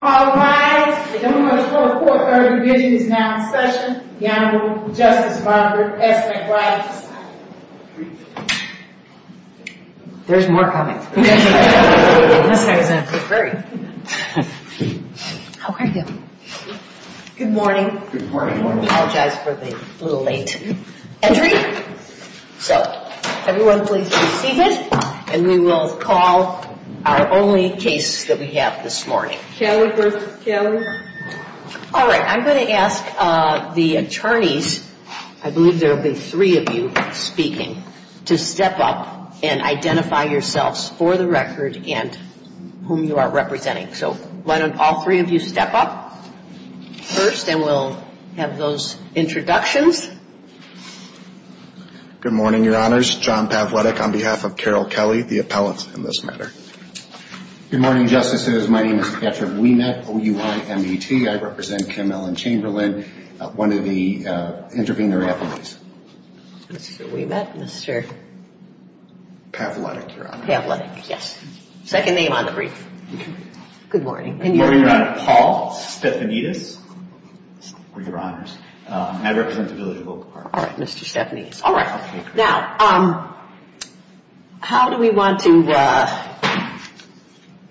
All rise. The only one to call the court in our division is now in session, the Honorable Justice Margaret S. McBride. There's more coming. How are you? Good morning. We apologize for the little late entry. So, everyone please be seated and we will call our only case that we have this morning. Kelly versus Kelly. All right, I'm going to ask the attorneys, I believe there will be three of you speaking, to step up and identify yourselves for the record and whom you are representing. So, why don't all three of you step up first and we'll have those introductions. Good morning, Your Honors. John Pavletich on behalf of Carol Kelly, the appellant in this matter. Good morning, Justices. My name is Patrick Ouimet, O-U-I-M-E-T. I represent Kim Ellen Chamberlain, one of the intervening attorneys. This is Ouimet, Mr. Pavletich, Your Honor. Pavletich, yes. Second name on the brief. Good morning. Good morning, Your Honor. Paul Stephanides, Your Honors. I represent the village of Oak Park. All right, Mr. Stephanides. All right. Now, how do we want to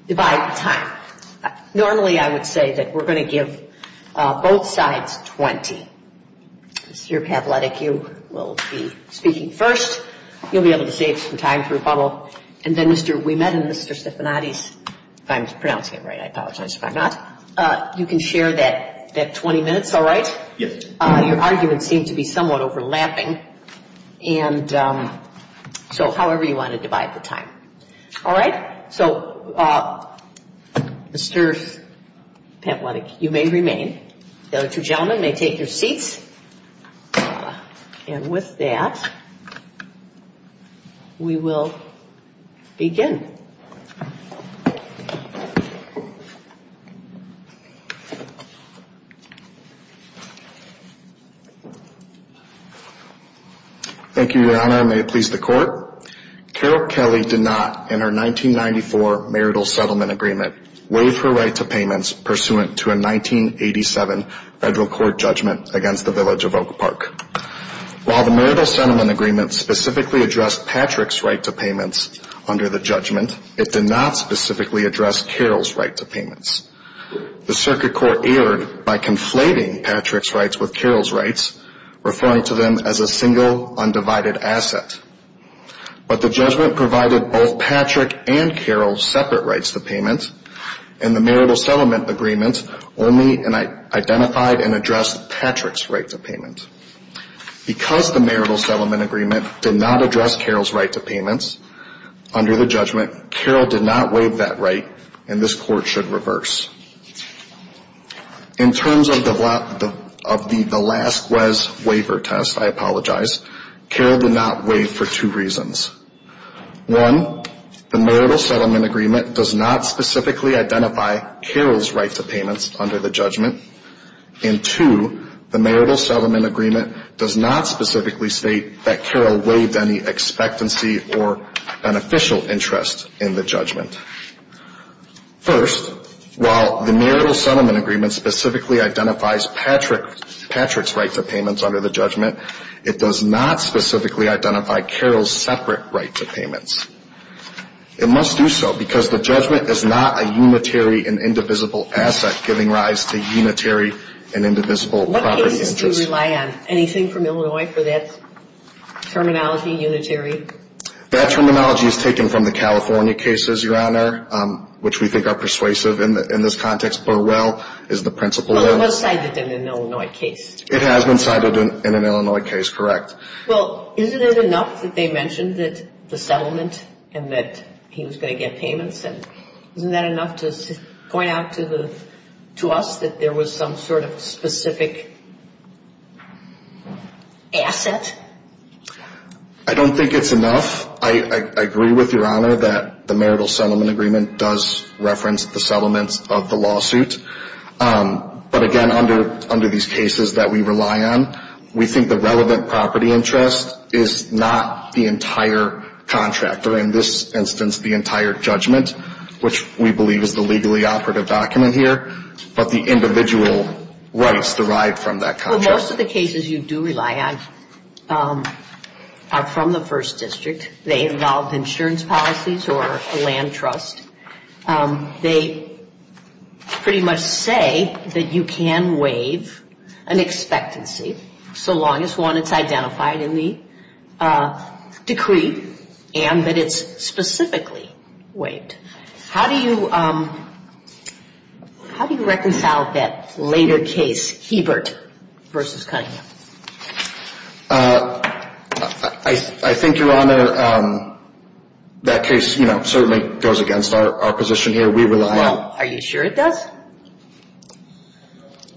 divide the time? Normally, I would say that we're going to give both sides 20. Mr. Pavletich, you will be speaking first. You'll be able to save some time for rebuttal. And then Mr. Ouimet and Mr. Stephanides, if I'm pronouncing it right. I apologize if I'm not. You can share that 20 minutes, all right? Yes. Your arguments seem to be somewhat overlapping. And so, however you want to divide the time. All right. So, Mr. Pavletich, you may remain. The other two gentlemen may take their seats. And with that, we will begin. Thank you, Your Honor. May it please the Court. Carol Kelly did not, in her 1994 marital settlement agreement, waive her right to payments pursuant to a 1987 federal court judgment against the village of Oak Park. While the marital settlement agreement specifically addressed Patrick's right to payments under the judgment, it did not specifically address Carol's right to payments. The circuit court erred by conflating Patrick's rights with Carol's rights, referring to them as a single undivided asset. But the judgment provided both Patrick and Carol separate rights to payments, and the marital settlement agreement only identified and addressed Patrick's right to payments. Because the marital settlement agreement did not address Carol's right to payments under the judgment, Carol did not waive that right, and this Court should reverse. In terms of the last GWES waiver test, I apologize, Carol did not waive for two reasons. One, the marital settlement agreement does not specifically identify Carol's right to payments under the judgment, and two, the marital settlement agreement does not specifically state that Carol waived any expectancy or beneficial interest in the judgment. First, while the marital settlement agreement specifically identifies Patrick's right to payments under the judgment, it does not specifically identify Carol's separate right to payments. It must do so because the judgment is not a unitary and indivisible asset giving rise to unitary and indivisible property interest. What cases do you rely on? Anything from Illinois for that terminology, unitary? That terminology is taken from the California cases, Your Honor, which we think are persuasive in this context. Burwell is the principal. But it was cited in an Illinois case. It has been cited in an Illinois case, correct. Well, isn't it enough that they mentioned that the settlement and that he was going to get payments, and isn't that enough to point out to us that there was some sort of specific asset? I don't think it's enough. I agree with Your Honor that the marital settlement agreement does reference the settlements of the lawsuit. But, again, under these cases that we rely on, we think the relevant property interest is not the entire contract, or in this instance the entire judgment, which we believe is the legally operative document here, but the individual rights derived from that contract. Well, most of the cases you do rely on are from the First District. They involve insurance policies or a land trust. They pretty much say that you can waive an expectancy so long as one is identified in the decree and that it's specifically waived. How do you reconcile that later case, Hebert v. Cunningham? I think, Your Honor, that case, you know, certainly goes against our position here. We rely on... Are you sure it does?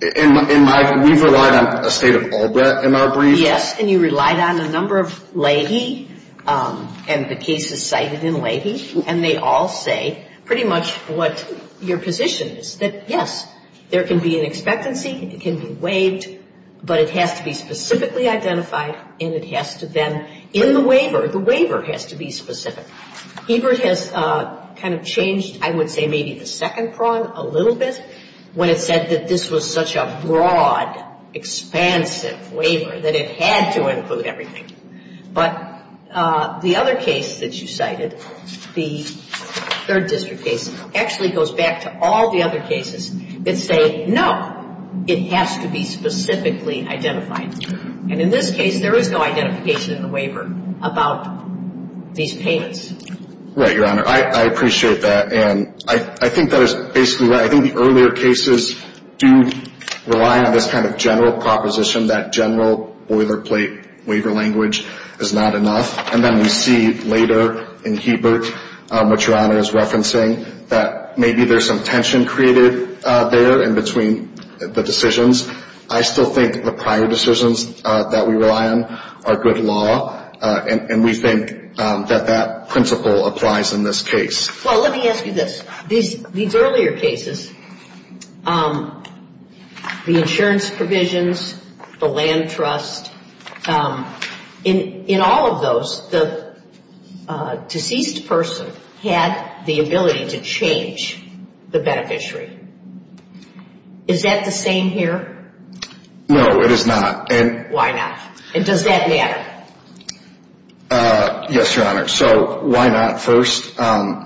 We've relied on a state of Albrecht in our brief. Yes, and you relied on a number of Leahy and the cases cited in Leahy, and they all say pretty much what your position is, that, yes, there can be an expectancy. It can be waived, but it has to be specifically identified, and it has to then, in the waiver, the waiver has to be specific. Hebert has kind of changed, I would say, maybe the second prong a little bit when it said that this was such a broad, expansive waiver that it had to include everything. But the other case that you cited, the Third District case, actually goes back to all the other cases that say, no, it has to be specifically identified. And in this case, there is no identification in the waiver about these payments. Right, Your Honor. I appreciate that, and I think that is basically right. I think the earlier cases do rely on this kind of general proposition that general boilerplate waiver language is not enough, and then we see later in Hebert, what Your Honor is referencing, that maybe there is some tension created there in between the decisions. I still think the prior decisions that we rely on are good law, and we think that that principle applies in this case. Well, let me ask you this. These earlier cases, the insurance provisions, the land trust, in all of those, the deceased person had the ability to change the beneficiary. Is that the same here? No, it is not. Why not? And does that matter? Yes, Your Honor. So why not? First,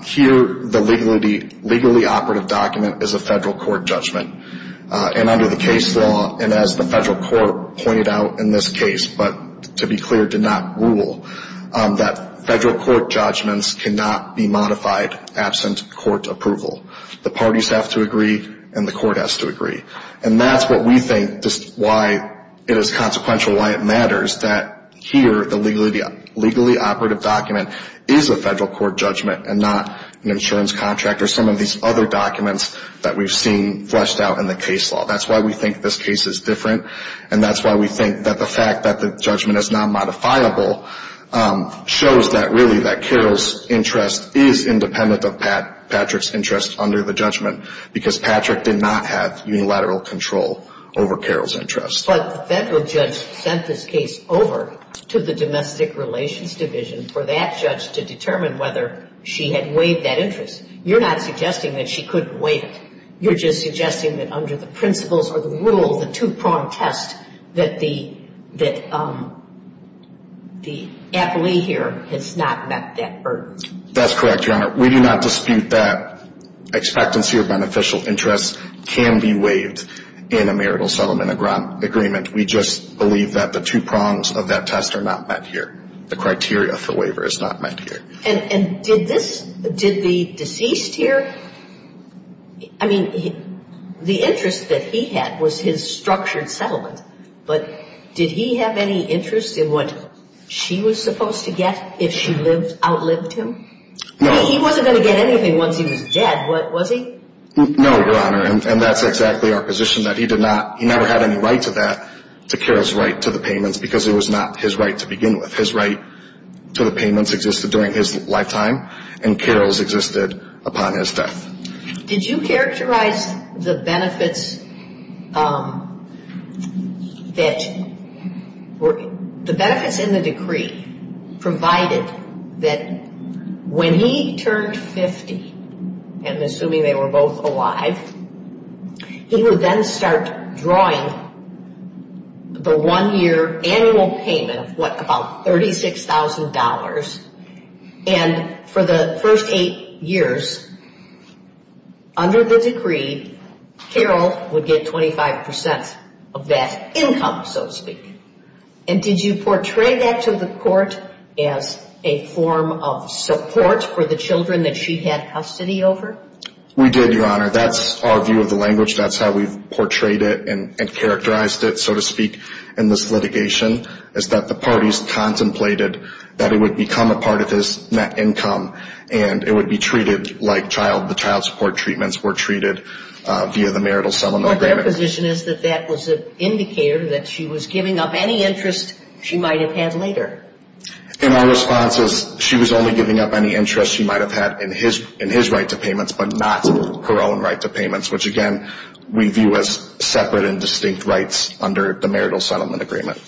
here the legally operative document is a federal court judgment. And under the case law, and as the federal court pointed out in this case, but to be clear, did not rule, that federal court judgments cannot be modified absent court approval. The parties have to agree, and the court has to agree. And that's what we think is consequential, why it matters, that here the legally operative document is a federal court judgment and not an insurance contract or some of these other documents that we've seen fleshed out in the case law. That's why we think this case is different, and that's why we think that the fact that the judgment is not modifiable shows that really that Carol's interest is independent of Patrick's interest under the judgment, because Patrick did not have unilateral control over Carol's interest. But the federal judge sent this case over to the domestic relations division for that judge to determine whether she had waived that interest. You're not suggesting that she couldn't waive it. You're just suggesting that under the principles or the rule, the two-prong test, that the appellee here has not met that burden. That's correct, Your Honor. We do not dispute that expectancy or beneficial interest can be waived in a marital settlement agreement. We just believe that the two prongs of that test are not met here. The criteria for waiver is not met here. And did this, did the deceased here, I mean, the interest that he had was his structured settlement, but did he have any interest in what she was supposed to get if she outlived him? No. He wasn't going to get anything once he was dead, was he? No, Your Honor, and that's exactly our position, that he never had any right to that, to Carol's right to the payments, because it was not his right to begin with. His right to the payments existed during his lifetime, and Carol's existed upon his death. Did you characterize the benefits that were, the benefits in the decree provided that when he turned 50, and assuming they were both alive, he would then start drawing the one-year annual payment of, what, about $36,000, and for the first eight years under the decree, Carol would get 25% of that income, so to speak. And did you portray that to the court as a form of support for the children that she had custody over? We did, Your Honor. That's our view of the language. That's how we've portrayed it and characterized it, so to speak, in this litigation, is that the parties contemplated that it would become a part of his net income and it would be treated like the child support treatments were treated via the marital settlement agreement. But their position is that that was an indicator that she was giving up any interest she might have had later. And our response is she was only giving up any interest she might have had in his right to payments, but not her own right to payments, which, again, we view as separate and distinct rights under the marital settlement agreement.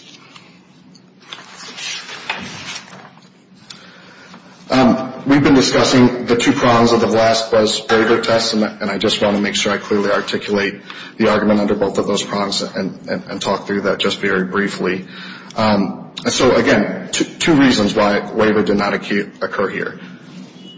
We've been discussing the two prongs of the last buzz waiver test, and I just want to make sure I clearly articulate the argument under both of those prongs and talk through that just very briefly. So, again, two reasons why a waiver did not occur here.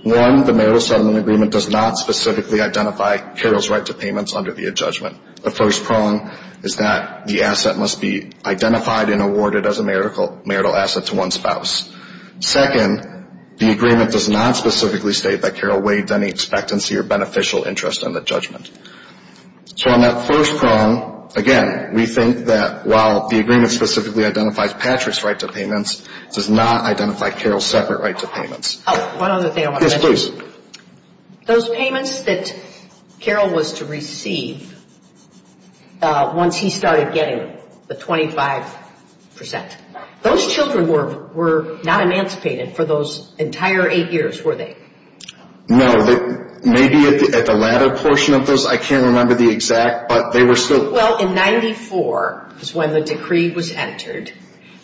One, the marital settlement agreement does not specifically identify Carol's right to payments under the adjudgment. The first prong is that the asset must be identified and awarded as a marital asset to one spouse. Second, the agreement does not specifically state that Carol waived any expectancy or beneficial interest in the judgment. So on that first prong, again, we think that while the agreement specifically identifies Patrick's right to payments, it does not identify Carol's separate right to payments. Oh, one other thing I want to mention. Yes, please. Those payments that Carol was to receive once he started getting the 25%, those children were not emancipated for those entire eight years, were they? No. Maybe at the latter portion of those. I can't remember the exact, but they were still. Well, in 94 is when the decree was entered.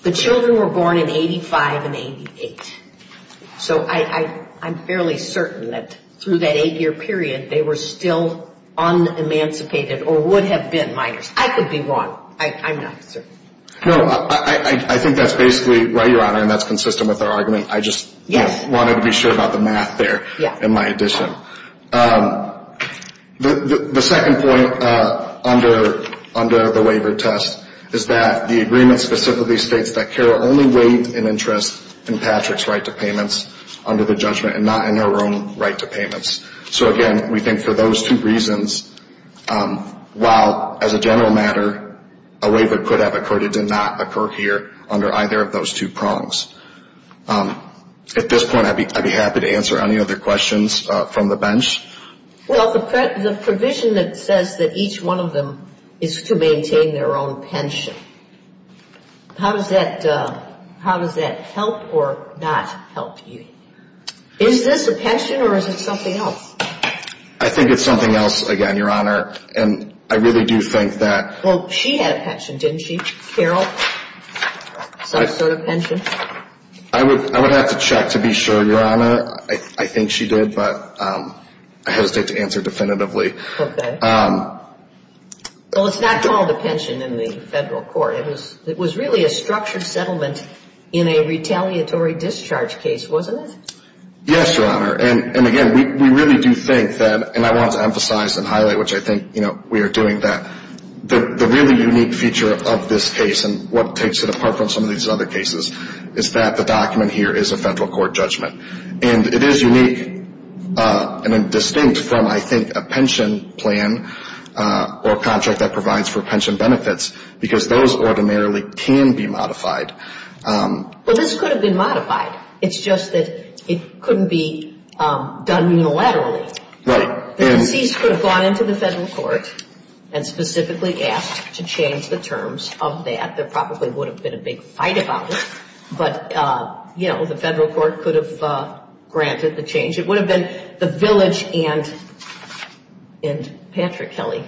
The children were born in 85 and 88. So I'm fairly certain that through that eight-year period, they were still unemancipated or would have been minors. I could be wrong. I'm not certain. No, I think that's basically right, Your Honor, and that's consistent with our argument. I just wanted to be sure about the math there in my addition. The second point under the waiver test is that the agreement specifically states that Carol only waived an interest in Patrick's right to payments under the judgment and not in her own right to payments. So, again, we think for those two reasons, while as a general matter, a waiver could have occurred, it did not occur here under either of those two prongs. At this point, I'd be happy to answer any other questions from the bench. Well, the provision that says that each one of them is to maintain their own pension, how does that help or not help you? Is this a pension or is it something else? I think it's something else, again, Your Honor, and I really do think that. Well, she had a pension, didn't she, Carol, some sort of pension? I would have to check to be sure, Your Honor. I think she did, but I hesitate to answer definitively. Okay. Well, it's not called a pension in the federal court. It was really a structured settlement in a retaliatory discharge case, wasn't it? Yes, Your Honor, and, again, we really do think that, and I want to emphasize and highlight, which I think we are doing, that the really unique feature of this case and what takes it apart from some of these other cases is that the document here is a federal court judgment. And it is unique and distinct from, I think, a pension plan or a contract that provides for pension benefits because those ordinarily can be modified. Well, this could have been modified. It's just that it couldn't be done unilaterally. Right. The deceased could have gone into the federal court and specifically asked to change the terms of that. There probably would have been a big fight about it. But, you know, the federal court could have granted the change. It would have been the village and Patrick Kelly,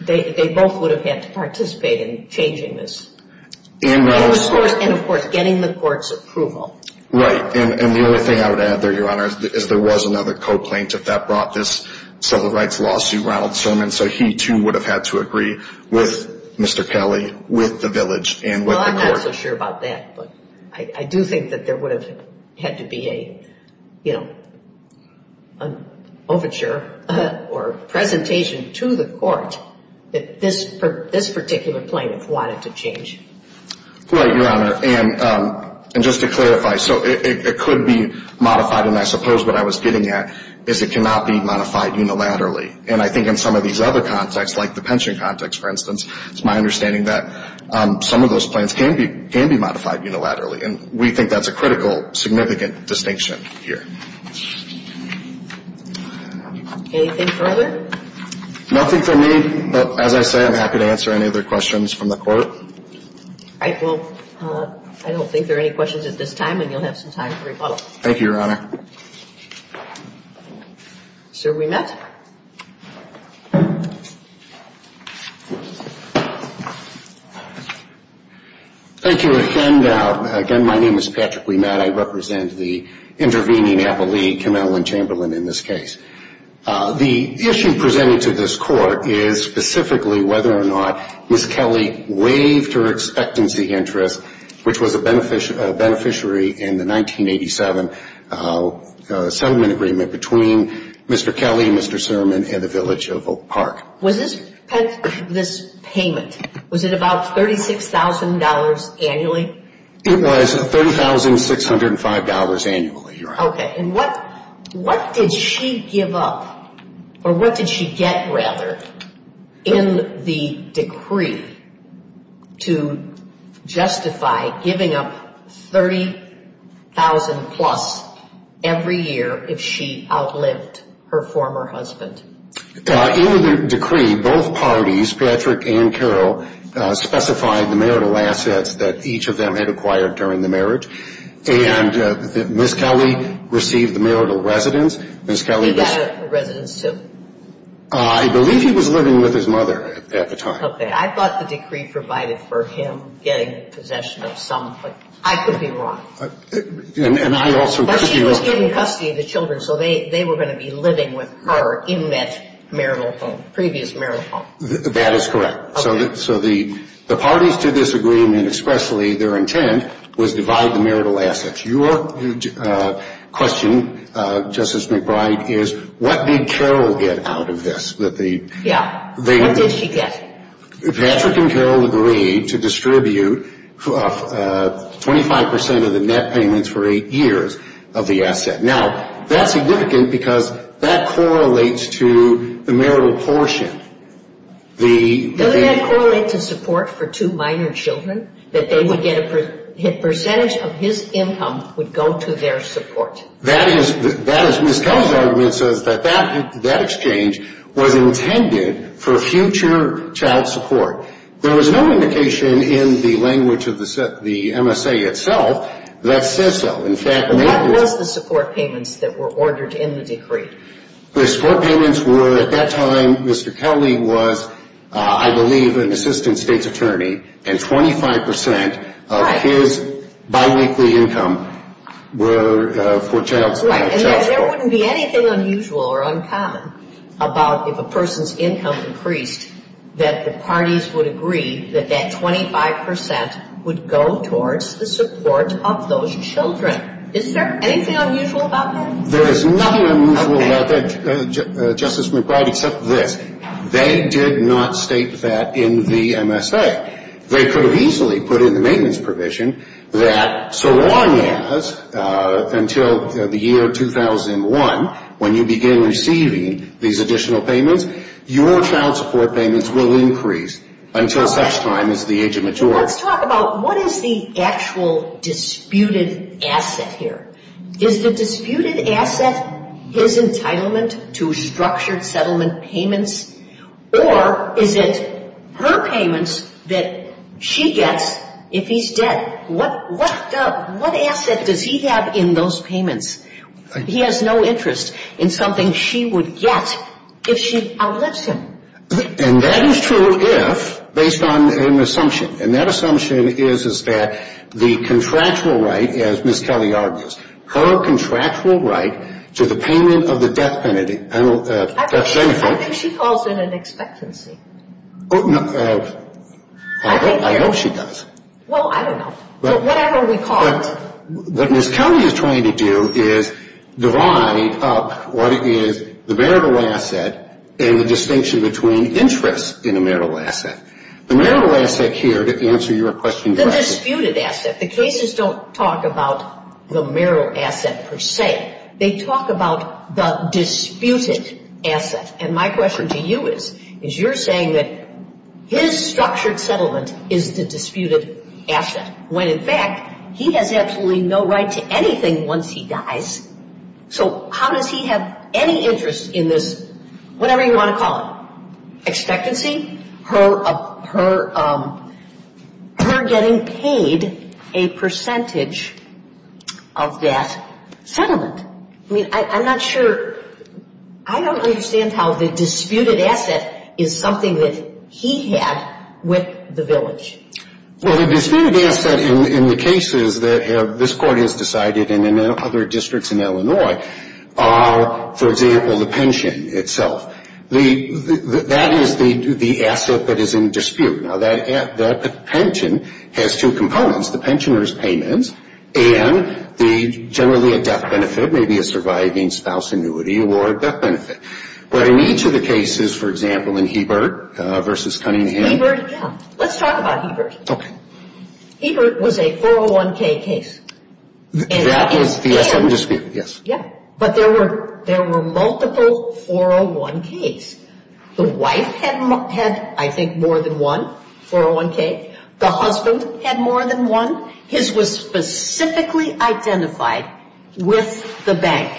they both would have had to participate in changing this. And, of course, getting the court's approval. Right. And the only thing I would add there, Your Honor, is there was another co-plaintiff that brought this civil rights lawsuit, Ronald Sermon, so he too would have had to agree with Mr. Kelly, with the village, and with the court. Well, I'm not so sure about that, but I do think that there would have had to be an overture or presentation to the court that this particular plaintiff wanted to change. Right, Your Honor. And just to clarify, so it could be modified, and I suppose what I was getting at is it cannot be modified unilaterally. And I think in some of these other contexts, like the pension context, for instance, it's my understanding that some of those plans can be modified unilaterally, and we think that's a critical, significant distinction here. Anything further? Nothing from me, but as I say, I'm happy to answer any other questions from the court. All right. Well, I don't think there are any questions at this time, and you'll have some time for rebuttal. Thank you, Your Honor. Sir Ouimet. Thank you again. Again, my name is Patrick Ouimet. I represent the intervening appellee, Kim Ellen Chamberlain, in this case. The issue presented to this court is specifically whether or not Ms. Kelly waived her expectancy interest, which was a beneficiary in the 1987 settlement agreement between Mr. Kelly and Mr. Sermon in the village of Oak Park. Was this payment, was it about $36,000 annually? It was $30,605 annually, Your Honor. Okay. And what did she give up, or what did she get, rather, in the decree to justify giving up $30,000 plus every year if she outlived her former husband? In the decree, both parties, Patrick and Carol, specified the marital assets that each of them had acquired during the marriage. And Ms. Kelly received the marital residence. He got a residence, too? I believe he was living with his mother at the time. Okay. I thought the decree provided for him getting possession of something. I could be wrong. But she was given custody of the children, so they were going to be living with her in that marital home, previous marital home. That is correct. Okay. So the parties to this agreement expressly, their intent was divide the marital assets. Your question, Justice McBride, is what did Carol get out of this? Yeah, what did she get? Patrick and Carol agreed to distribute 25% of the net payments for eight years of the asset. Now, that's significant because that correlates to the marital portion. Doesn't that correlate to support for two minor children, that they would get a percentage of his income would go to their support? Ms. Kelly's argument says that that exchange was intended for future child support. There was no indication in the language of the MSA itself that says so. What was the support payments that were ordered in the decree? The support payments were, at that time, Mr. Kelly was, I believe, an assistant state's attorney, and 25% of his biweekly income were for child support. Right. And there wouldn't be anything unusual or uncommon about if a person's income increased, that the parties would agree that that 25% would go towards the support of those children. Is there anything unusual about that? There is nothing unusual about that, Justice McBride, except this. They did not state that in the MSA. They could have easily put in the maintenance provision that so long as, until the year 2001, when you begin receiving these additional payments, your child support payments will increase until such time as the age of maturity. Let's talk about what is the actual disputed asset here. Is the disputed asset his entitlement to structured settlement payments, or is it her payments that she gets if he's dead? What asset does he have in those payments? He has no interest in something she would get if she outlives him. And that is true if, based on an assumption, and that assumption is that the contractual right, as Ms. Kelly argues, her contractual right to the payment of the death penalty. I think she calls it an expectancy. I hope she does. Well, I don't know. Whatever we call it. What Ms. Kelly is trying to do is divide up what is the marital asset and the distinction between interest in a marital asset. The marital asset here, to answer your question directly. The disputed asset. The cases don't talk about the marital asset per se. They talk about the disputed asset. And my question to you is, is you're saying that his structured settlement is the disputed asset, when, in fact, he has absolutely no right to anything once he dies. So how does he have any interest in this, whatever you want to call it, expectancy, her getting paid a percentage of that settlement? I mean, I'm not sure. I don't understand how the disputed asset is something that he had with the village. Well, the disputed asset in the cases that this Court has decided and in other districts in Illinois are, for example, the pension itself. That is the asset that is in dispute. Now, that pension has two components, the pensioner's payments and generally a death benefit, maybe a surviving spouse annuity or death benefit. But in each of the cases, for example, in Hebert versus Cunningham. Hebert, yeah. Let's talk about Hebert. Okay. Hebert was a 401k case. That is the asset in dispute, yes. But there were multiple 401ks. The wife had, I think, more than one 401k. The husband had more than one. His was specifically identified with the bank.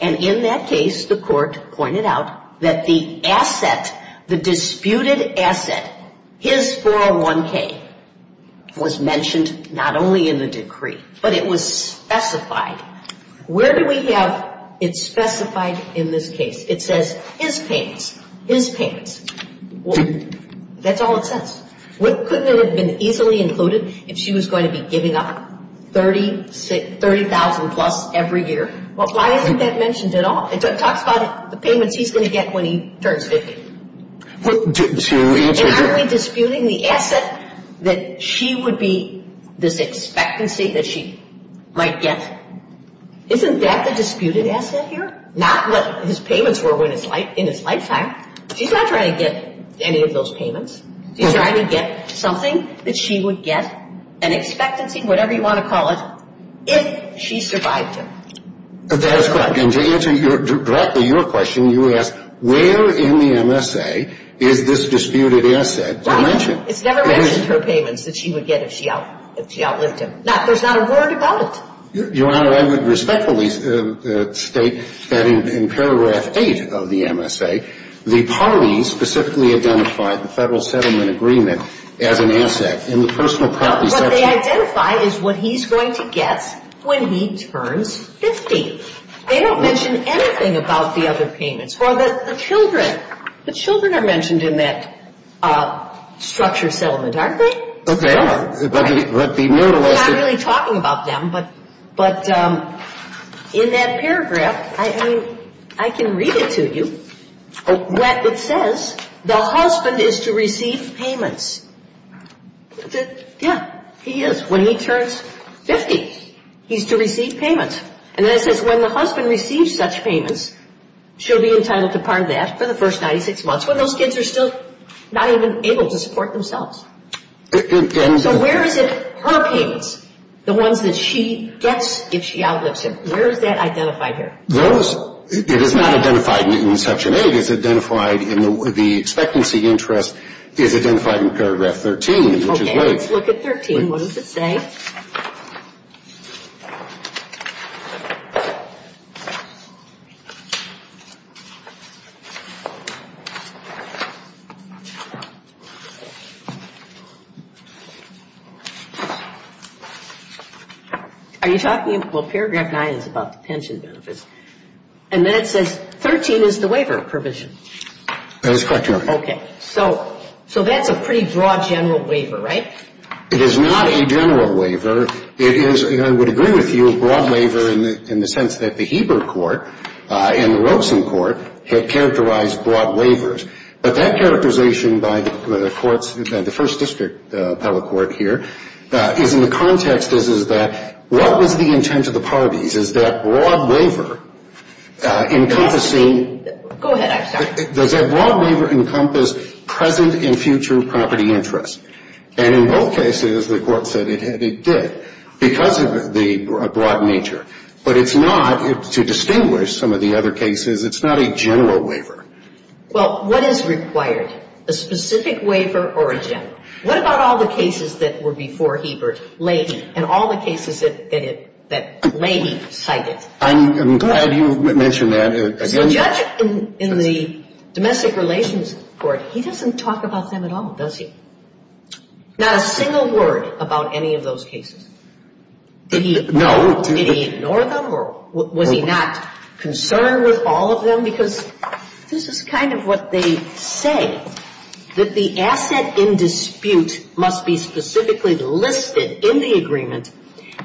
And in that case, the Court pointed out that the asset, the disputed asset, his 401k was mentioned not only in the decree, but it was specified. Where do we have it specified in this case? It says his payments, his payments. That's all it says. Couldn't it have been easily included if she was going to be giving up 30,000-plus every year? Why isn't that mentioned at all? It talks about the payments he's going to get when he turns 50. To answer your question. that she would be this expectancy that she might get. Isn't that the disputed asset here? Not what his payments were in his lifetime. He's not trying to get any of those payments. He's trying to get something that she would get, an expectancy, whatever you want to call it, if she survived him. That is correct. And to answer directly your question, you ask, where in the MSA is this disputed asset mentioned? It's never mentioned her payments that she would get if she outlived him. There's not a word about it. Your Honor, I would respectfully state that in paragraph 8 of the MSA, the parties specifically identified the Federal Settlement Agreement as an asset in the personal property section. What they identify is what he's going to get when he turns 50. They don't mention anything about the other payments. Or the children. The children are mentioned in that structure settlement, aren't they? But the muralist... We're not really talking about them. But in that paragraph, I mean, I can read it to you. It says, the husband is to receive payments. Yeah, he is. When he turns 50, he's to receive payments. And then it says, when the husband receives such payments, she'll be entitled to part of that for the first 96 months, when those kids are still not even able to support themselves. So where is it, her payments, the ones that she gets if she outlives him? Where is that identified here? It is not identified in Section 8. It's identified in the expectancy interest. It's identified in paragraph 13, which is late. Okay, let's look at 13. What does it say? Are you talking? Well, paragraph 9 is about the pension benefits. And then it says, 13 is the waiver provision. That is correct, Your Honor. Okay. So that's a pretty broad general waiver, right? It is not a general waiver. It's a general waiver. It's a general waiver. It's a general waiver. It's a general waiver in the sense that the Heber court and the Rosen court had characterized broad waivers. But that characterization by the courts, the first district public court here, is in the context, is that what was the intent of the parties? Is that broad waiver encompassing? Go ahead, I'm sorry. Does that broad waiver encompass present and future property interest? And in both cases, the court said it did because of the broad nature. But it's not, to distinguish some of the other cases, it's not a general waiver. Well, what is required? A specific waiver or a general? What about all the cases that were before Heber and all the cases that Leahy cited? I'm glad you mentioned that. The judge in the domestic relations court, he doesn't talk about them at all, does he? Not a single word about any of those cases. No. Did he ignore them or was he not concerned with all of them? Because this is kind of what they say, that the asset in dispute must be specifically listed in the agreement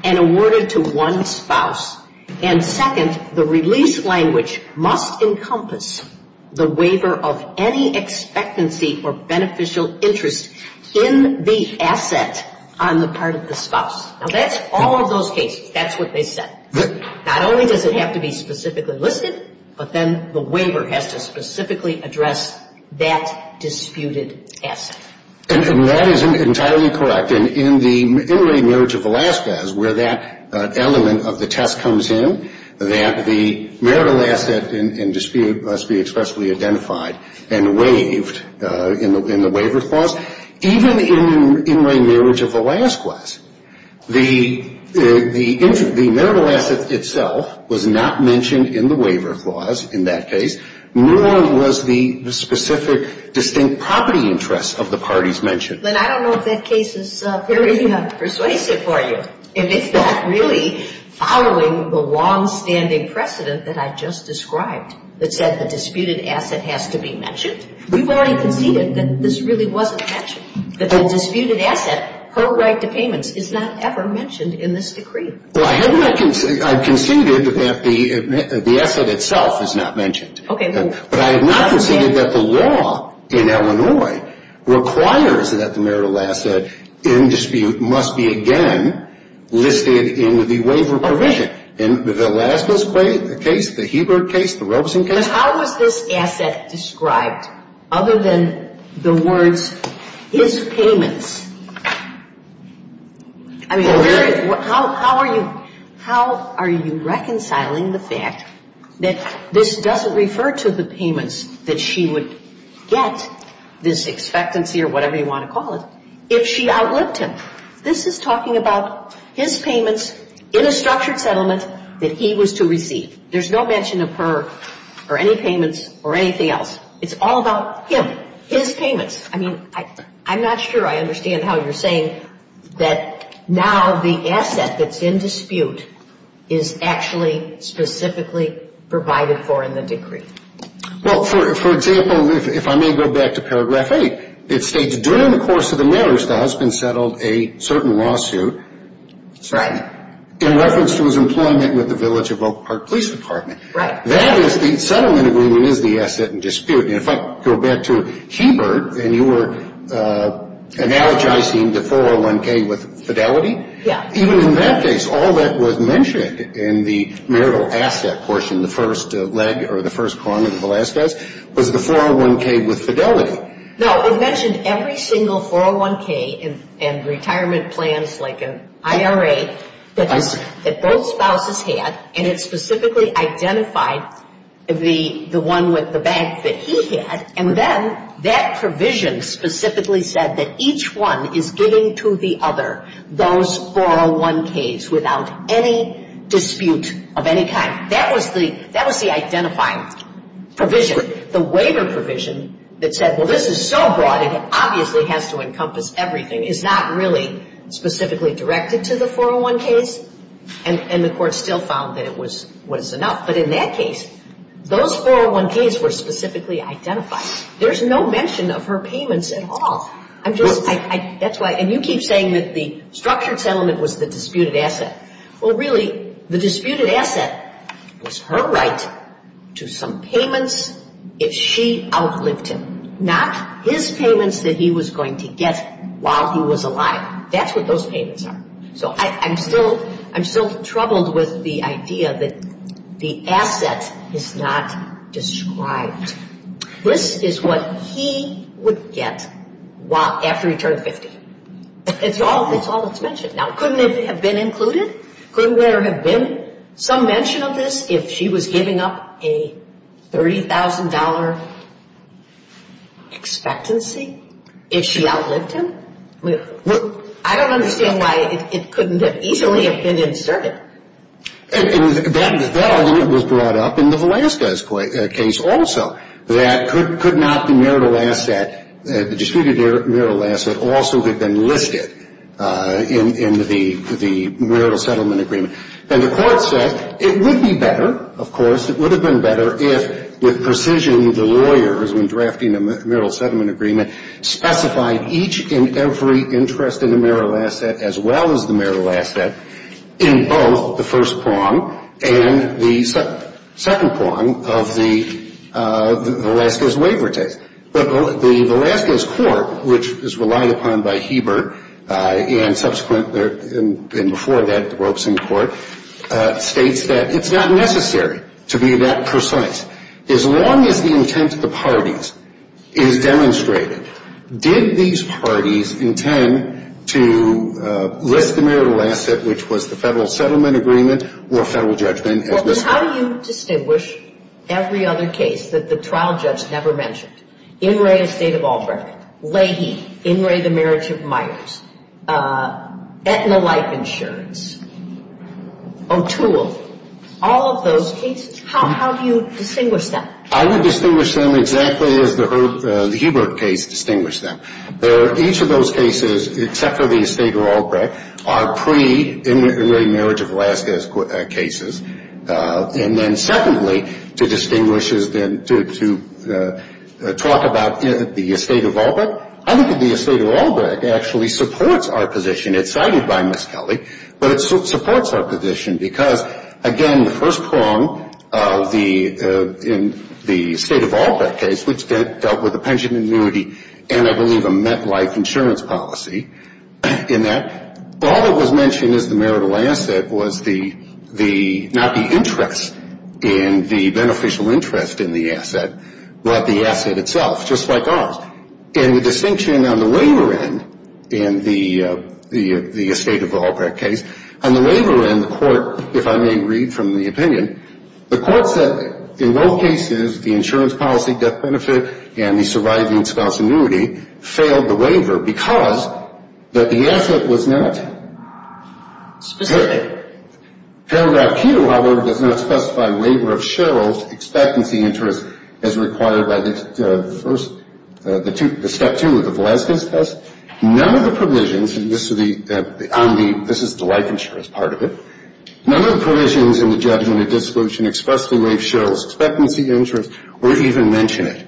and awarded to one spouse. And second, the release language must encompass the waiver of any expectancy or beneficial interest in the asset on the part of the spouse. Now, that's all of those cases. That's what they said. Not only does it have to be specifically listed, but then the waiver has to specifically address that disputed asset. And that is entirely correct. Often in the in-ring marriage of Velazquez, where that element of the test comes in, that the marital asset in dispute must be expressly identified and waived in the waiver clause. Even in the in-ring marriage of Velazquez, the marital asset itself was not mentioned in the waiver clause, in that case, nor was the specific distinct property interest of the parties mentioned. Lynn, I don't know if that case is very persuasive for you. If it's not really following the longstanding precedent that I just described, that said the disputed asset has to be mentioned. We've already conceded that this really wasn't mentioned, that the disputed asset, her right to payments, is not ever mentioned in this decree. Well, I have not conceded that the asset itself is not mentioned. Okay. But I have not conceded that the law in Illinois requires that the marital asset in dispute must be, again, listed in the waiver provision. In Velazquez case, the Hebert case, the Robeson case. But how was this asset described, other than the words, his payments? I mean, how are you reconciling the fact that this doesn't refer to the payments that she would get, this expectancy or whatever you want to call it, if she outlived him? This is talking about his payments in a structured settlement that he was to receive. There's no mention of her or any payments or anything else. It's all about him, his payments. I'm not sure I understand how you're saying that now the asset that's in dispute is actually specifically provided for in the decree. Well, for example, if I may go back to paragraph 8, it states during the course of the marriage the husband settled a certain lawsuit. Right. In reference to his employment with the Village of Oak Park Police Department. Right. That is the settlement agreement is the asset in dispute. And if I go back to Hebert, and you were analogizing the 401K with fidelity. Yeah. Even in that case, all that was mentioned in the marital asset portion, the first leg or the first column of the Velazquez, was the 401K with fidelity. No, it mentioned every single 401K and retirement plans like an IRA that both spouses had, and it specifically identified the one with the bank that he had, and then that provision specifically said that each one is giving to the other those 401Ks without any dispute of any kind. That was the identifying provision. The waiver provision that said, well, this is so broad, it obviously has to encompass everything, is not really specifically directed to the 401Ks, and the court still found that it was enough. But in that case, those 401Ks were specifically identified. There's no mention of her payments at all. And you keep saying that the structured settlement was the disputed asset. Well, really, the disputed asset was her right to some payments if she outlived him, not his payments that he was going to get while he was alive. That's what those payments are. So I'm still troubled with the idea that the asset is not described. This is what he would get after he turned 50. That's all that's mentioned. Now, couldn't it have been included? Couldn't there have been some mention of this if she was giving up a $30,000 expectancy, if she outlived him? I don't understand why it couldn't have easily have been inserted. That argument was brought up in the Velazquez case also, that could not the disputed marital asset also have been listed in the marital settlement agreement. And the court said it would be better, of course, it would have been better if, with precision, the lawyers, when drafting a marital settlement agreement, specified each and every interest in the marital asset, as well as the marital asset, in both the first prong and the second prong of the Velazquez waiver text. But the Velazquez court, which is relied upon by Heber and subsequent and before that the Ropeson court, states that it's not necessary to be that precise. As long as the intent of the parties is demonstrated, did these parties intend to list the marital asset, which was the federal settlement agreement, or federal judgment, as listed? Well, then how do you distinguish every other case that the trial judge never mentioned? In re estate of Albright, Leahy, In re the marriage of Myers, Aetna Life Insurance, O'Toole, all of those cases, how do you distinguish them? I would distinguish them exactly as the Heber case distinguished them. Each of those cases, except for the estate of Albright, are pre in re marriage of Velazquez cases. And then secondly, to distinguish is then to talk about the estate of Albright. I think that the estate of Albright actually supports our position. It's cited by Ms. Kelly. But it supports our position because, again, the first prong of the estate of Albright case, which dealt with the pension and annuity and, I believe, a MetLife insurance policy, in that all that was mentioned as the marital asset was not the interest in the beneficial interest in the asset, but the asset itself, just like ours. And the distinction on the waiver end in the estate of Albright case, on the waiver end, the court, if I may read from the opinion, the court said in both cases the insurance policy, death benefit, and the surviving spouse annuity failed the waiver because the asset was not. Specifically? Paragraph Q, however, does not specify waiver of Sherrill's expectancy interest as required by the first, the step two of the Velazquez test. None of the provisions, and this is the life insurance part of it, none of the provisions in the judgment of dissolution expressly waive Sherrill's expectancy interest or even mention it.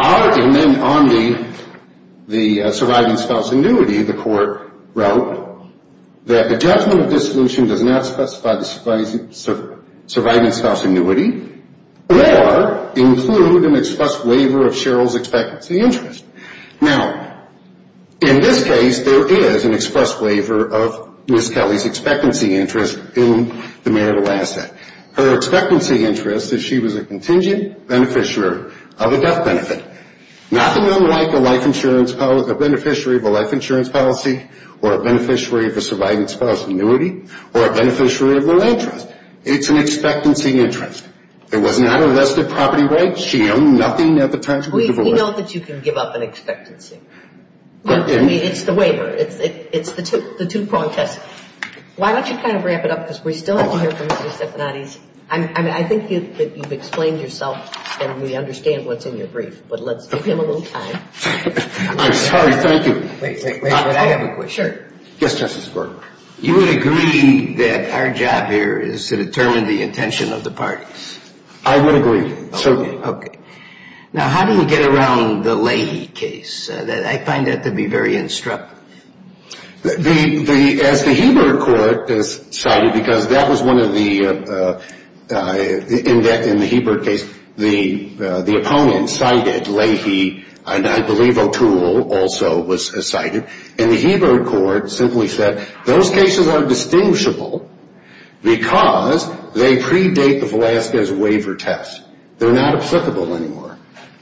Our amendment on the surviving spouse annuity, the court wrote, that the judgment of dissolution does not specify the surviving spouse annuity or include an express waiver of Sherrill's expectancy interest. Now, in this case, there is an express waiver of Ms. Kelly's expectancy interest in the marital asset. Her expectancy interest is she was a contingent beneficiary of a death benefit. Nothing unlike a beneficiary of a life insurance policy or a beneficiary of a surviving spouse annuity or a beneficiary of the land trust. It's an expectancy interest. It was not a vested property right. She owned nothing at the time she was divorced. We know that you can give up an expectancy. It's the waiver. It's the two-prong test. Why don't you kind of wrap it up because we still have to hear from Mr. Stephanides. I think you've explained yourself and we understand what's in your brief, but let's give him a little time. I'm sorry. Thank you. Wait, wait, wait. I have a question. Sure. Yes, Justice Breyer. You would agree that our job here is to determine the intention of the parties? I would agree. Certainly. Okay. Now, how do you get around the Leahy case? I find that to be very instructive. As the Hebert Court decided, because that was one of the, in the Hebert case, the opponent cited Leahy, and I believe O'Toole also was cited, and the Hebert Court simply said those cases are distinguishable because they predate the Velazquez waiver test. They're not applicable anymore.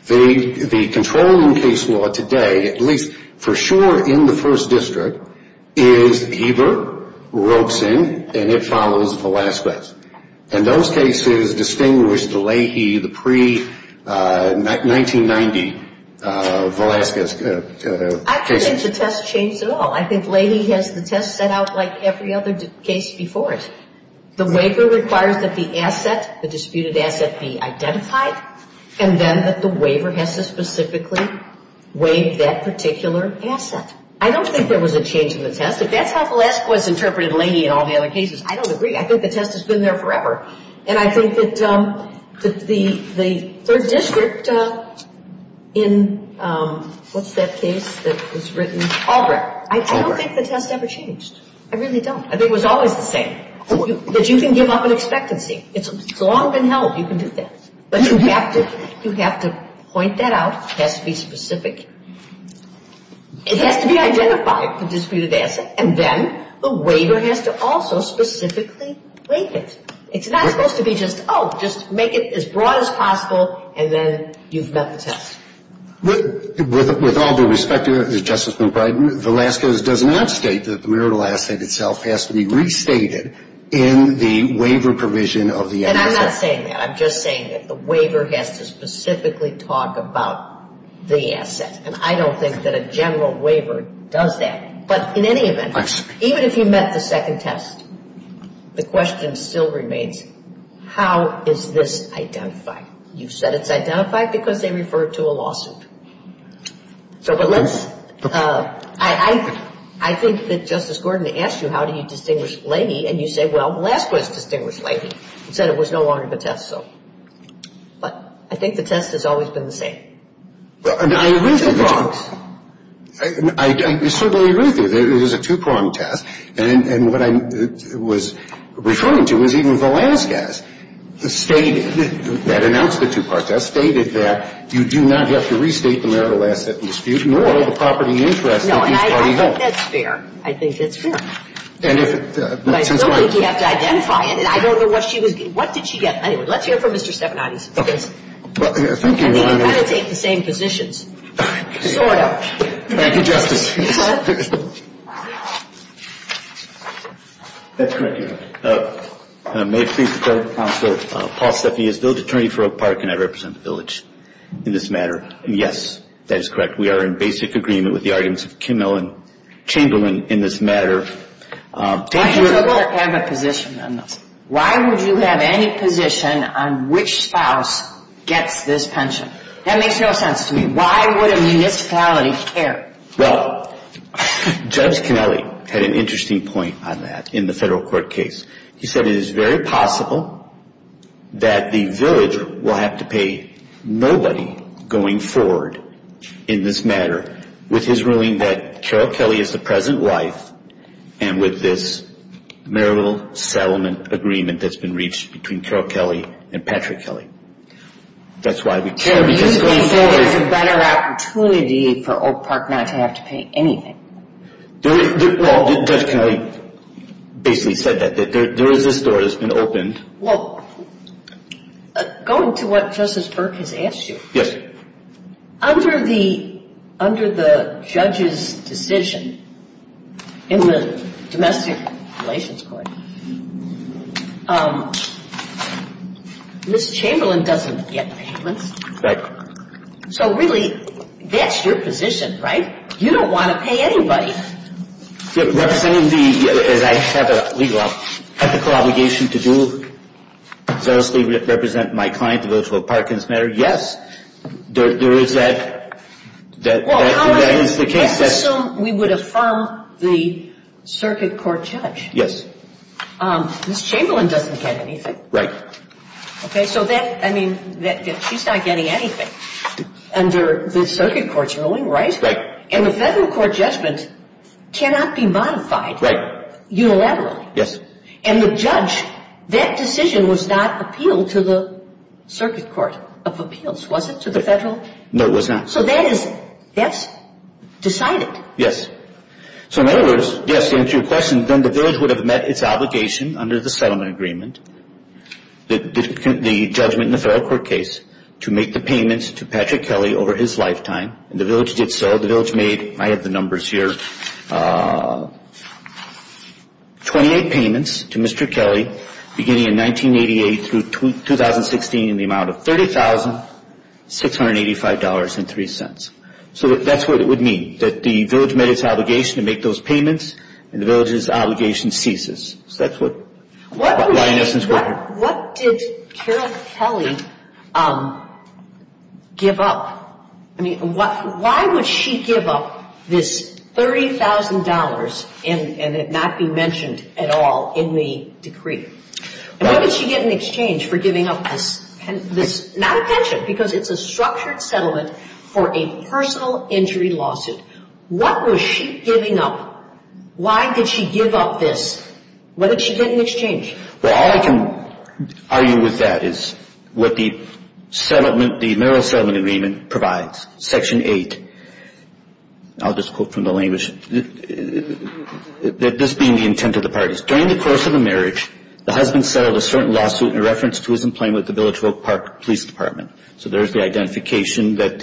The controlling case law today, at least for sure in the First District, is Hebert ropes in and it follows Velazquez. And those cases distinguish the Leahy, the pre-1990 Velazquez cases. I don't think the test changed at all. I think Leahy has the test set out like every other case before it. The waiver requires that the asset, the disputed asset, be identified, and then that the waiver has to specifically waive that particular asset. I don't think there was a change in the test. If that's how Velazquez interpreted Leahy and all the other cases, I don't agree. I think the test has been there forever. And I think that the Third District in what's that case that was written? Albrecht. I don't think the test ever changed. I really don't. I think it was always the same, that you can give up an expectancy. It's long been held you can do that. But you have to point that out. It has to be specific. It has to be identified, the disputed asset, and then the waiver has to also specifically waive it. It's not supposed to be just, oh, just make it as broad as possible, and then you've met the test. With all due respect to Justice McBride, Velazquez does not state that the marital asset itself has to be restated in the waiver provision of the asset. And I'm not saying that. I'm just saying that the waiver has to specifically talk about the asset. And I don't think that a general waiver does that. But in any event, even if you met the second test, the question still remains, how is this identified? You said it's identified because they referred to a lawsuit. So but let's – I think that Justice Gordon asked you how do you distinguish Laney, and you said, well, Velazquez distinguished Laney and said it was no longer the test, so. But I think the test has always been the same. And I agree with you. I certainly agree with you. It is a two-pronged test. And what I was referring to was even Velazquez stated, that announced the two-pronged test, stated that you do not have to restate the marital asset in dispute, nor the property interest of each party held. No, and I think that's fair. I think that's fair. And if – But I still think you have to identify it. And I don't know what she was – what did she get? Well, thank you, Your Honor. I think you kind of take the same positions. Sort of. Thank you, Justice. That's correct, Your Honor. May it please the Counsel, Paul Steffi is the village attorney for Oak Park, and I represent the village in this matter. Yes, that is correct. We are in basic agreement with the arguments of Kim Ellen Chamberlain in this matter. Why would you have a position on this? Why would you have any position on which spouse gets this pension? That makes no sense to me. Why would a municipality care? Well, Judge Kennelly had an interesting point on that in the federal court case. He said it is very possible that the village will have to pay nobody going forward in this matter with his ruling that Carol Kelly is the present wife, and with this marital settlement agreement that's been reached between Carol Kelly and Patrick Kelly. That's why we care. So you think there's a better opportunity for Oak Park not to have to pay anything? Well, Judge Kennelly basically said that. There is this door that's been opened. Well, going to what Justice Burke has asked you. Yes. Under the judge's decision in the Domestic Relations Court, Ms. Chamberlain doesn't get payments. Right. So really, that's your position, right? You don't want to pay anybody. Representing the, as I said, legal obligation to do, seriously represent my client to vote for Oak Park in this matter, yes, there is that case. Let's assume we would affirm the circuit court judge. Yes. Ms. Chamberlain doesn't get anything. Right. Okay, so that, I mean, she's not getting anything under the circuit court's ruling, right? Right. And the federal court judgment cannot be modified unilaterally. Yes. And the judge, that decision was not appealed to the circuit court of appeals, was it, to the federal? No, it was not. So that's decided. Yes. So in other words, yes, to answer your question, then the village would have met its obligation under the settlement agreement, the judgment in the federal court case, to make the payments to Patrick Kelly over his lifetime. And the village did so. The village made, I have the numbers here, 28 payments to Mr. Kelly beginning in 1988 through 2016 in the amount of $30,685.03. So that's what it would mean, that the village met its obligation to make those payments, and the village's obligation ceases. So that's what Lioness and his worker. What did Carol Kelly give up? I mean, why would she give up this $30,000 and it not be mentioned at all in the decree? And what did she get in exchange for giving up this, not a pension, because it's a structured settlement for a personal injury lawsuit. What was she giving up? Why did she give up this? What did she get in exchange? Well, all I can argue with that is what the settlement, the marital settlement agreement provides, Section 8. I'll just quote from the language. This being the intent of the parties. During the course of the marriage, the husband settled a certain lawsuit in reference to his employment with the Village of Oak Park Police Department. So there's the identification that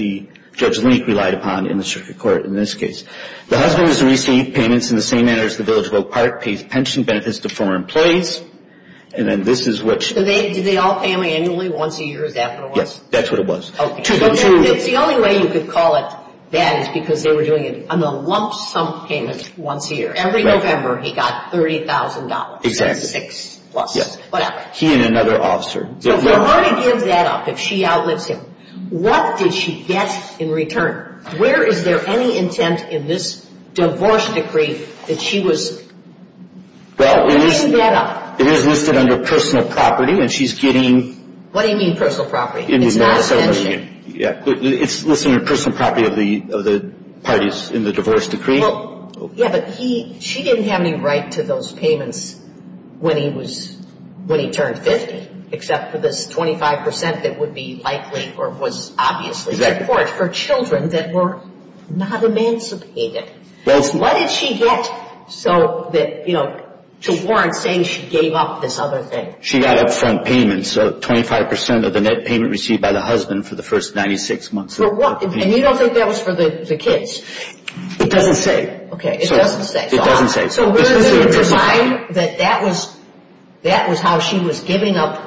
Judge Link relied upon in the circuit court in this case. The husband has received payments in the same manner as the Village of Oak Park, pays pension benefits to former employees. And then this is which. Did they all pay him annually once a year? Is that what it was? Yes, that's what it was. Okay. It's the only way you could call it that is because they were doing it on a lump sum payment once a year. Every November he got $30,000. Exactly. Six plus. Yes. Whatever. He and another officer. So for her to give that up, if she outlives him, what did she get in return? Where is there any intent in this divorce decree that she was giving that up? Well, it is listed under personal property and she's getting. What do you mean personal property? It's not a pension. It's listed under personal property of the parties in the divorce decree. Well, yes, but she didn't have any right to those payments when he turned 50, except for this 25% that would be likely or was obviously support for children that were not emancipated. What did she get to warrant saying she gave up this other thing? She got upfront payments, so 25% of the net payment received by the husband for the first 96 months. And you don't think that was for the kids? It doesn't say. Okay, it doesn't say. It doesn't say. So where does it define that that was how she was giving up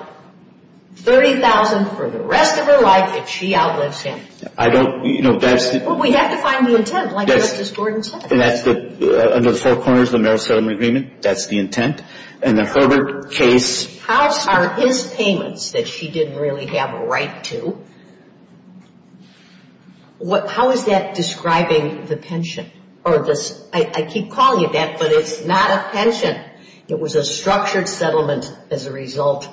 $30,000 for the rest of her life if she outlives him? Well, we have to find the intent, like Justice Gordon said. Under the four corners of the marital settlement agreement, that's the intent. And the Herbert case. How are his payments that she didn't really have a right to, how is that describing the pension? I keep calling it that, but it's not a pension. It was a structured settlement as a result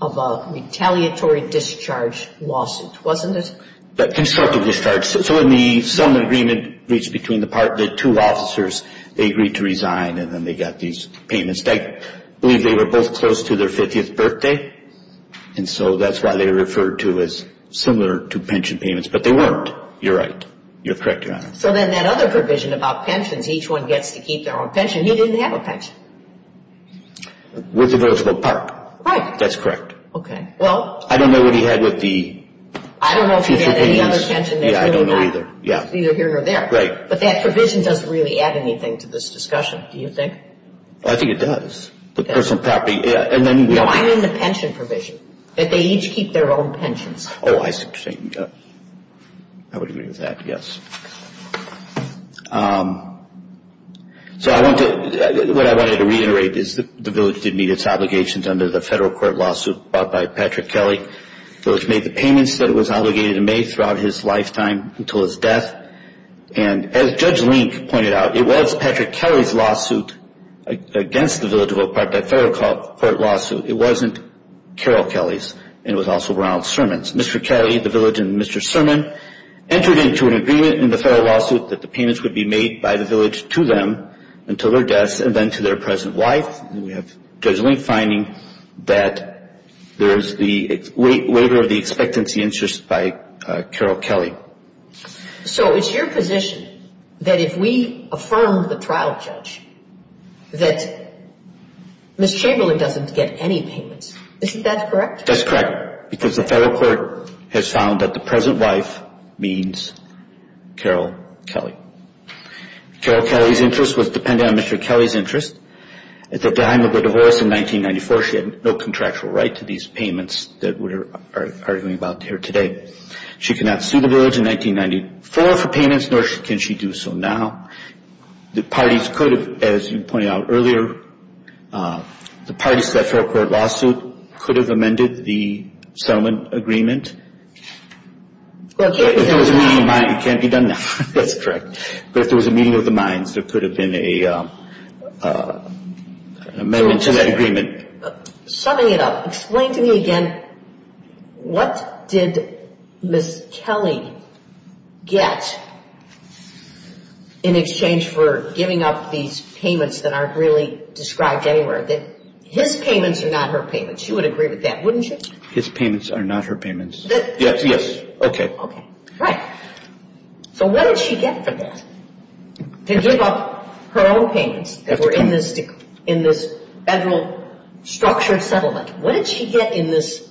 of a retaliatory discharge lawsuit, wasn't it? A constructive discharge. So in the settlement agreement reached between the two officers, they agreed to resign, and then they got these payments. I believe they were both close to their 50th birthday, and so that's why they were referred to as similar to pension payments, but they weren't. You're right. You're correct, Your Honor. So then that other provision about pensions, each one gets to keep their own pension. He didn't have a pension. With the village of Oak Park. Right. That's correct. Okay. Well. I don't know what he had with the future payments. I don't know if he had any other pension. Yeah, I don't know either. Either here or there. Right. But that provision doesn't really add anything to this discussion, do you think? I think it does. The personal property. No, I mean the pension provision, that they each keep their own pensions. Oh, I see. I would agree with that, yes. So what I wanted to reiterate is the village did meet its obligations under the federal court lawsuit brought by Patrick Kelly. The village made the payments that it was obligated to make throughout his lifetime until his death, and as Judge Link pointed out, it was Patrick Kelly's lawsuit against the village of Oak Park, that federal court lawsuit. It wasn't Carol Kelly's, and it was also Ronald Sermon's. Mr. Kelly, the village, and Mr. Sermon entered into an agreement in the federal lawsuit that the payments would be made by the village to them until their death and then to their present wife. We have Judge Link finding that there is the waiver of the expectancy interest by Carol Kelly. So it's your position that if we affirm the trial judge that Ms. Chamberlain doesn't get any payments. Isn't that correct? That's correct, because the federal court has found that the present wife means Carol Kelly. Carol Kelly's interest was dependent on Mr. Kelly's interest. At the time of her divorce in 1994, she had no contractual right to these payments that we're arguing about here today. She could not sue the village in 1994 for payments, nor can she do so now. The parties could have, as you pointed out earlier, the parties to that federal court lawsuit could have amended the settlement agreement. It can't be done now. That's correct. But if there was a meeting of the minds, there could have been an amendment to that agreement. Summing it up, explain to me again what did Ms. Kelly get in exchange for giving up these payments that aren't really described anywhere? His payments are not her payments. She would agree with that, wouldn't she? His payments are not her payments. Yes. Okay. Okay. Right. So what did she get from that? To give up her own payments that were in this federal structured settlement. What did she get in this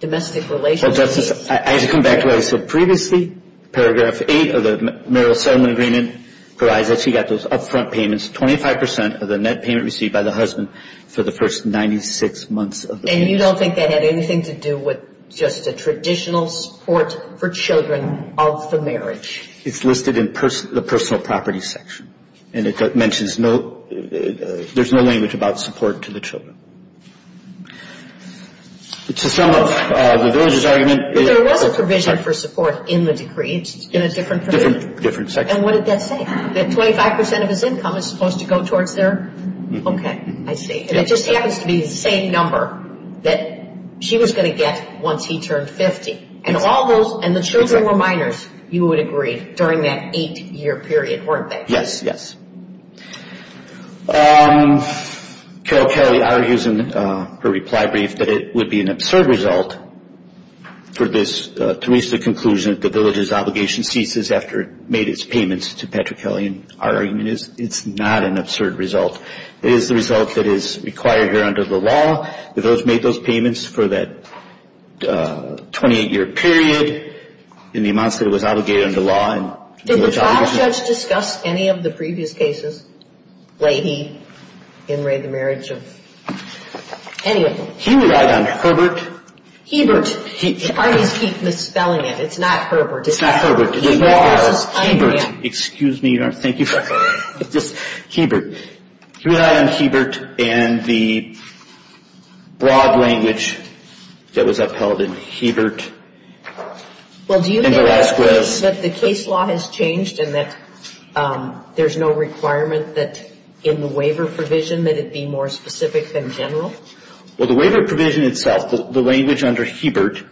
domestic relations case? Well, Justice, I have to come back to what I said previously. Paragraph 8 of the marital settlement agreement provides that she got those upfront payments, 25 percent of the net payment received by the husband for the first 96 months of the marriage. And you don't think that had anything to do with just a traditional support for children of the marriage? It's listed in the personal property section. And it mentions there's no language about support to the children. To sum up the villagers' argument. But there was a provision for support in the decree. It's in a different provision. Different section. And what did that say? That 25 percent of his income is supposed to go towards their? Okay. I see. And it just happens to be the same number that she was going to get once he turned 50. And all those, and the children were minors, you would agree, during that eight-year period, weren't they? Yes, yes. Carol Kelly argues in her reply brief that it would be an absurd result for this, to reach the conclusion that the villagers' obligation ceases after it made its payments to Patrick Kelly. And our argument is it's not an absurd result. It is the result that is required here under the law. That those made those payments for that 28-year period in the amounts that it was obligated under law. Did the trial judge discuss any of the previous cases? Lady, Henry, the marriage of? Anyway. He relied on Herbert. Hebert. The parties keep misspelling it. It's not Herbert. It's not Herbert. Hebert. Excuse me. Thank you. It's just Hebert. He relied on Hebert and the broad language that was upheld in Hebert and Velazquez. Well, do you think that the case law has changed and that there's no requirement that in the waiver provision that it be more specific than general? Well, the waiver provision itself, the language under Hebert,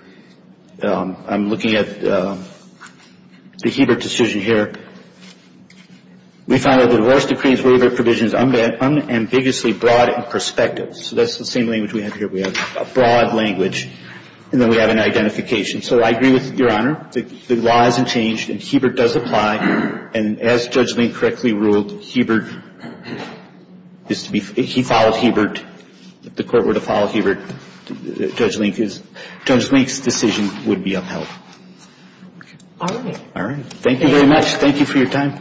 I'm looking at the Hebert decision here. We found that the divorce decree's waiver provision is unambiguously broad in perspective. So that's the same language we have here. We have a broad language. And then we have an identification. So I agree with Your Honor. The law hasn't changed and Hebert does apply. And as Judge Link correctly ruled, Hebert is to be, he followed Hebert. The court were to follow Hebert. Judge Link's decision would be upheld. All right. All right. Thank you very much. Thank you for your time.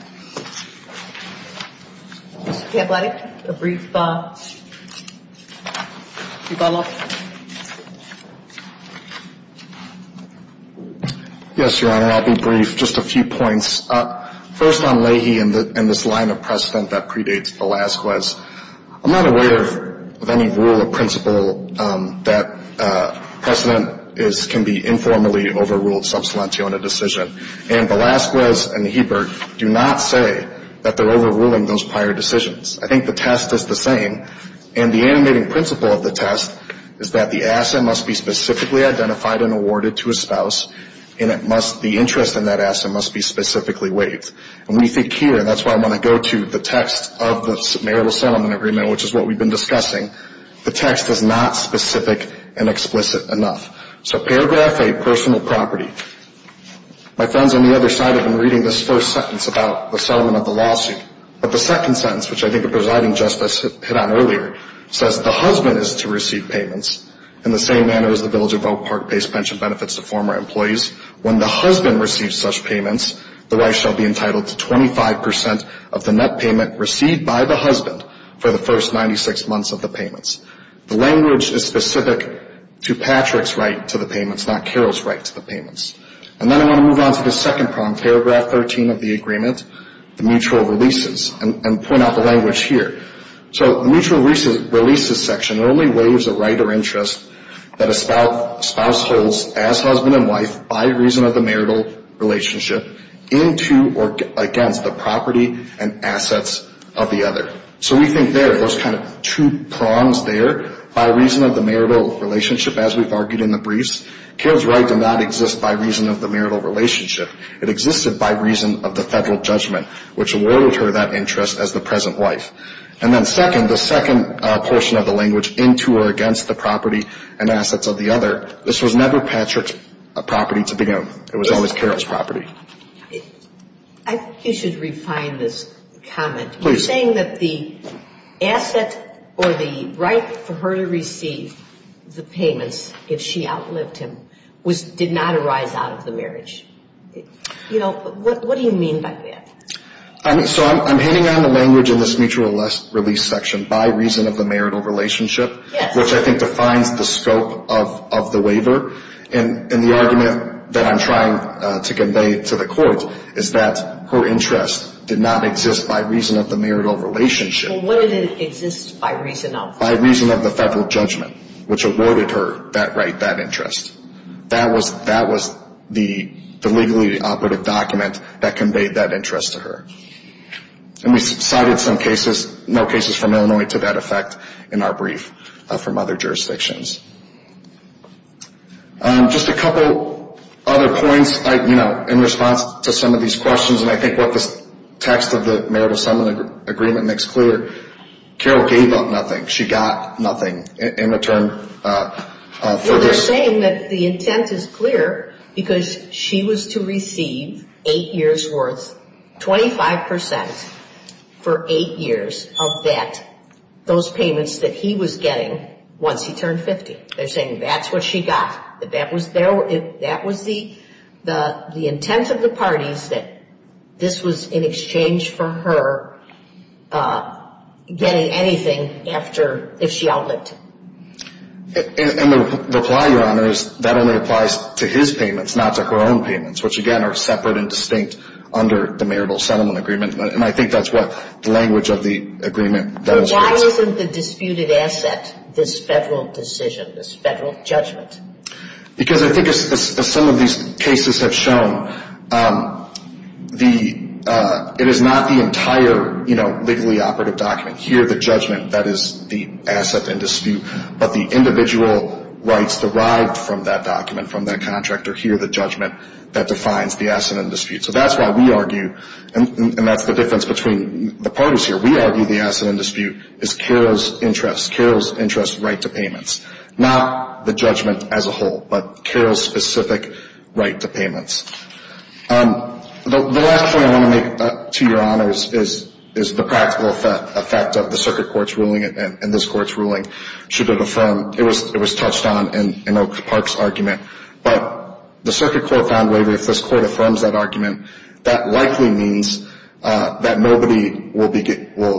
Mr. Kablatik, a brief follow-up. Yes, Your Honor. I'll be brief. Just a few points. First on Leahy and this line of precedent that predates Velazquez, I'm not aware of any rule or principle that precedent is, can be informally overruled sub salentio in a decision. And Velazquez and Hebert do not say that they're overruling those prior decisions. I think the test is the same. And the animating principle of the test is that the asset must be specifically identified and awarded to a spouse, and it must, the interest in that asset must be specifically waived. And we think here, and that's why I'm going to go to the text of the marital settlement agreement, which is what we've been discussing, the text is not specific and explicit enough. So paragraph 8, personal property. My friends on the other side have been reading this first sentence about the settlement of the lawsuit. But the second sentence, which I think the presiding justice hit on earlier, says the husband is to receive payments in the same manner as the village of Oak Park pays pension benefits to former employees. When the husband receives such payments, the wife shall be entitled to 25 percent of the net payment received by the husband for the first 96 months of the payments. The language is specific to Patrick's right to the payments, not Carol's right to the payments. And then I want to move on to the second prong, paragraph 13 of the agreement, the mutual releases, and point out the language here. So the mutual releases section only waives a right or interest that a spouse holds as husband and wife by reason of the marital relationship into or against the property and assets of the other. So we think there are those kind of two prongs there, by reason of the marital relationship, as we've argued in the briefs. Carol's right did not exist by reason of the marital relationship. It existed by reason of the federal judgment, which awarded her that interest as the present wife. And then second, the second portion of the language, into or against the property and assets of the other, this was never Patrick's property to begin with. It was always Carol's property. I think you should refine this comment. You're saying that the asset or the right for her to receive the payments, if she outlived him, did not arise out of the marriage. You know, what do you mean by that? So I'm hitting on the language in this mutual release section, by reason of the marital relationship, which I think defines the scope of the waiver. And the argument that I'm trying to convey to the court is that her interest did not exist by reason of the marital relationship. Well, what did it exist by reason of? By reason of the federal judgment, which awarded her that right, that interest. That was the legally operative document that conveyed that interest to her. And we cited some cases, no cases from Illinois to that effect in our brief from other jurisdictions. Just a couple other points, you know, in response to some of these questions, and I think what this text of the marital settlement agreement makes clear, Carol gave up nothing. She got nothing in return for this. They're saying that the intent is clear because she was to receive eight years' worth, 25%, for eight years of that, those payments that he was getting once he turned 50. They're saying that's what she got, that that was the intent of the parties, that this was in exchange for her getting anything after, if she outlived him. And the reply, Your Honor, is that only applies to his payments, not to her own payments, which, again, are separate and distinct under the marital settlement agreement. And I think that's what the language of the agreement does. So why isn't the disputed asset this federal decision, this federal judgment? Because I think as some of these cases have shown, it is not the entire, you know, legally operative document. Here, the judgment that is the asset in dispute, but the individual rights derived from that document, from that contract are here, the judgment that defines the asset in dispute. So that's why we argue, and that's the difference between the parties here, we argue the asset in dispute is Carol's interest, Carol's interest right to payments, not the judgment as a whole, but Carol's specific right to payments. The last point I want to make to Your Honor is the practical effect of the circuit court's ruling and this court's ruling should it affirm, it was touched on in Oak Park's argument, but the circuit court found that if this court affirms that argument, that likely means that nobody will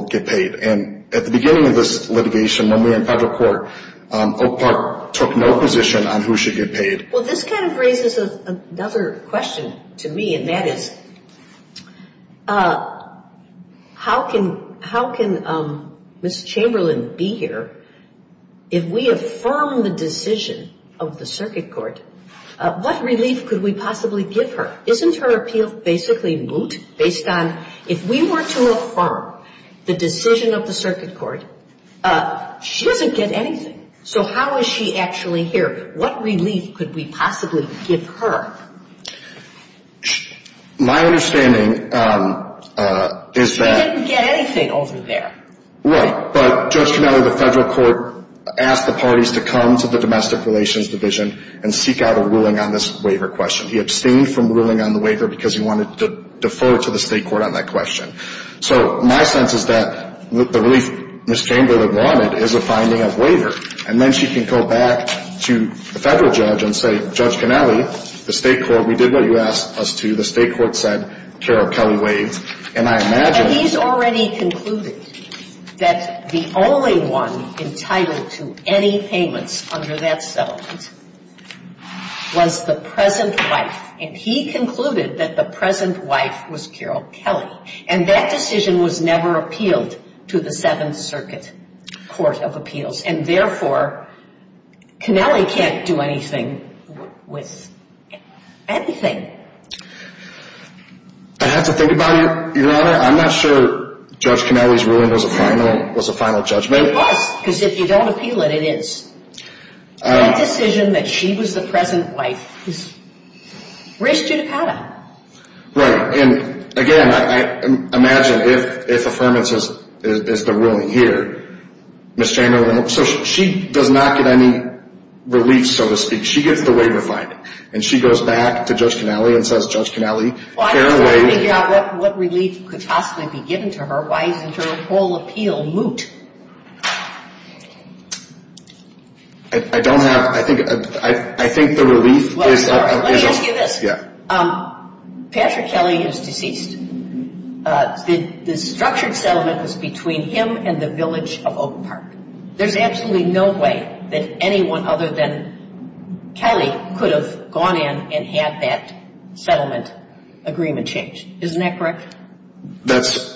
get paid. And at the beginning of this litigation, when we were in federal court, Oak Park took no position on who should get paid. Well, this kind of raises another question to me, and that is, how can Ms. Chamberlain be here if we affirm the decision of the circuit court, what relief could we possibly give her? Isn't her appeal basically moot based on if we were to affirm the decision of the circuit court, she doesn't get anything. So how is she actually here? What relief could we possibly give her? My understanding is that… She didn't get anything over there. Right, but Judge Canelli, the federal court asked the parties to come to the domestic relations division and seek out a ruling on this waiver question. He abstained from ruling on the waiver because he wanted to defer to the state court on that question. So my sense is that the relief Ms. Chamberlain wanted is a finding of waiver. And then she can go back to the federal judge and say, Judge Canelli, the state court, we did what you asked us to. The state court said Carol Kelly waived. And I imagine… But he's already concluded that the only one entitled to any payments under that settlement was the present wife. And he concluded that the present wife was Carol Kelly. And that decision was never appealed to the Seventh Circuit Court of Appeals. And, therefore, Canelli can't do anything with anything. I have to think about it, Your Honor. I'm not sure Judge Canelli's ruling was a final judgment. It was, because if you don't appeal it, it is. That decision that she was the present wife raised judicata. Right. And, again, I imagine if affirmance is the ruling here, Ms. Chamberlain… So she does not get any relief, so to speak. She gets the waiver finding. And she goes back to Judge Canelli and says, Judge Canelli… Well, I'm trying to figure out what relief could possibly be given to her. Why isn't her whole appeal moot? I don't have… I think the relief is… Let me ask you this. Patrick Kelly is deceased. The structured settlement was between him and the village of Oak Park. There's absolutely no way that anyone other than Kelly could have gone in and had that settlement agreement changed. Isn't that correct? That's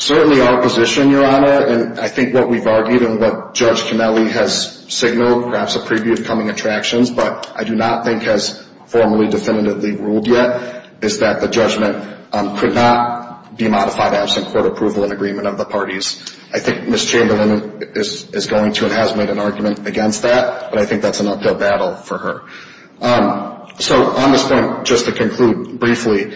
certainly our position, Your Honor. And I think what we've argued and what Judge Canelli has signaled, perhaps a preview of coming attractions, but I do not think has formally definitively ruled yet, is that the judgment could not be modified absent court approval and agreement of the parties. I think Ms. Chamberlain is going to and has made an argument against that, but I think that's an uphill battle for her. So on this point, just to conclude briefly,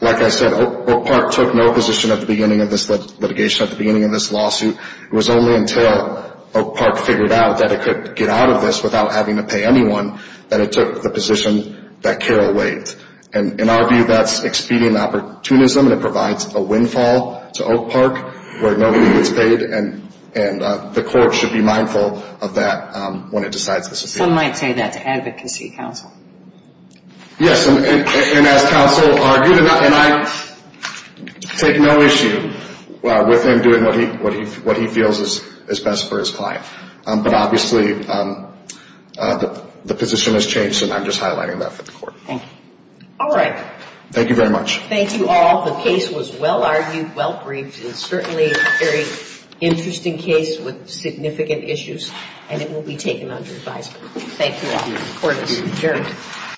like I said, Oak Park took no position at the beginning of this litigation, at the beginning of this lawsuit. It was only until Oak Park figured out that it could get out of this without having to pay anyone that it took the position that Carol waived. And in our view, that's expedient opportunism, and it provides a windfall to Oak Park where nobody gets paid, and the court should be mindful of that when it decides this appeal. Some might say that to advocacy counsel. Yes, and as counsel argued, and I take no issue with him doing what he feels is best for his client. But obviously, the position has changed, and I'm just highlighting that for the court. Thank you. All right. Thank you very much. Thank you all. The case was well-argued, well-briefed, and certainly a very interesting case with significant issues, and it will be taken under advisement. Thank you all. Court is adjourned.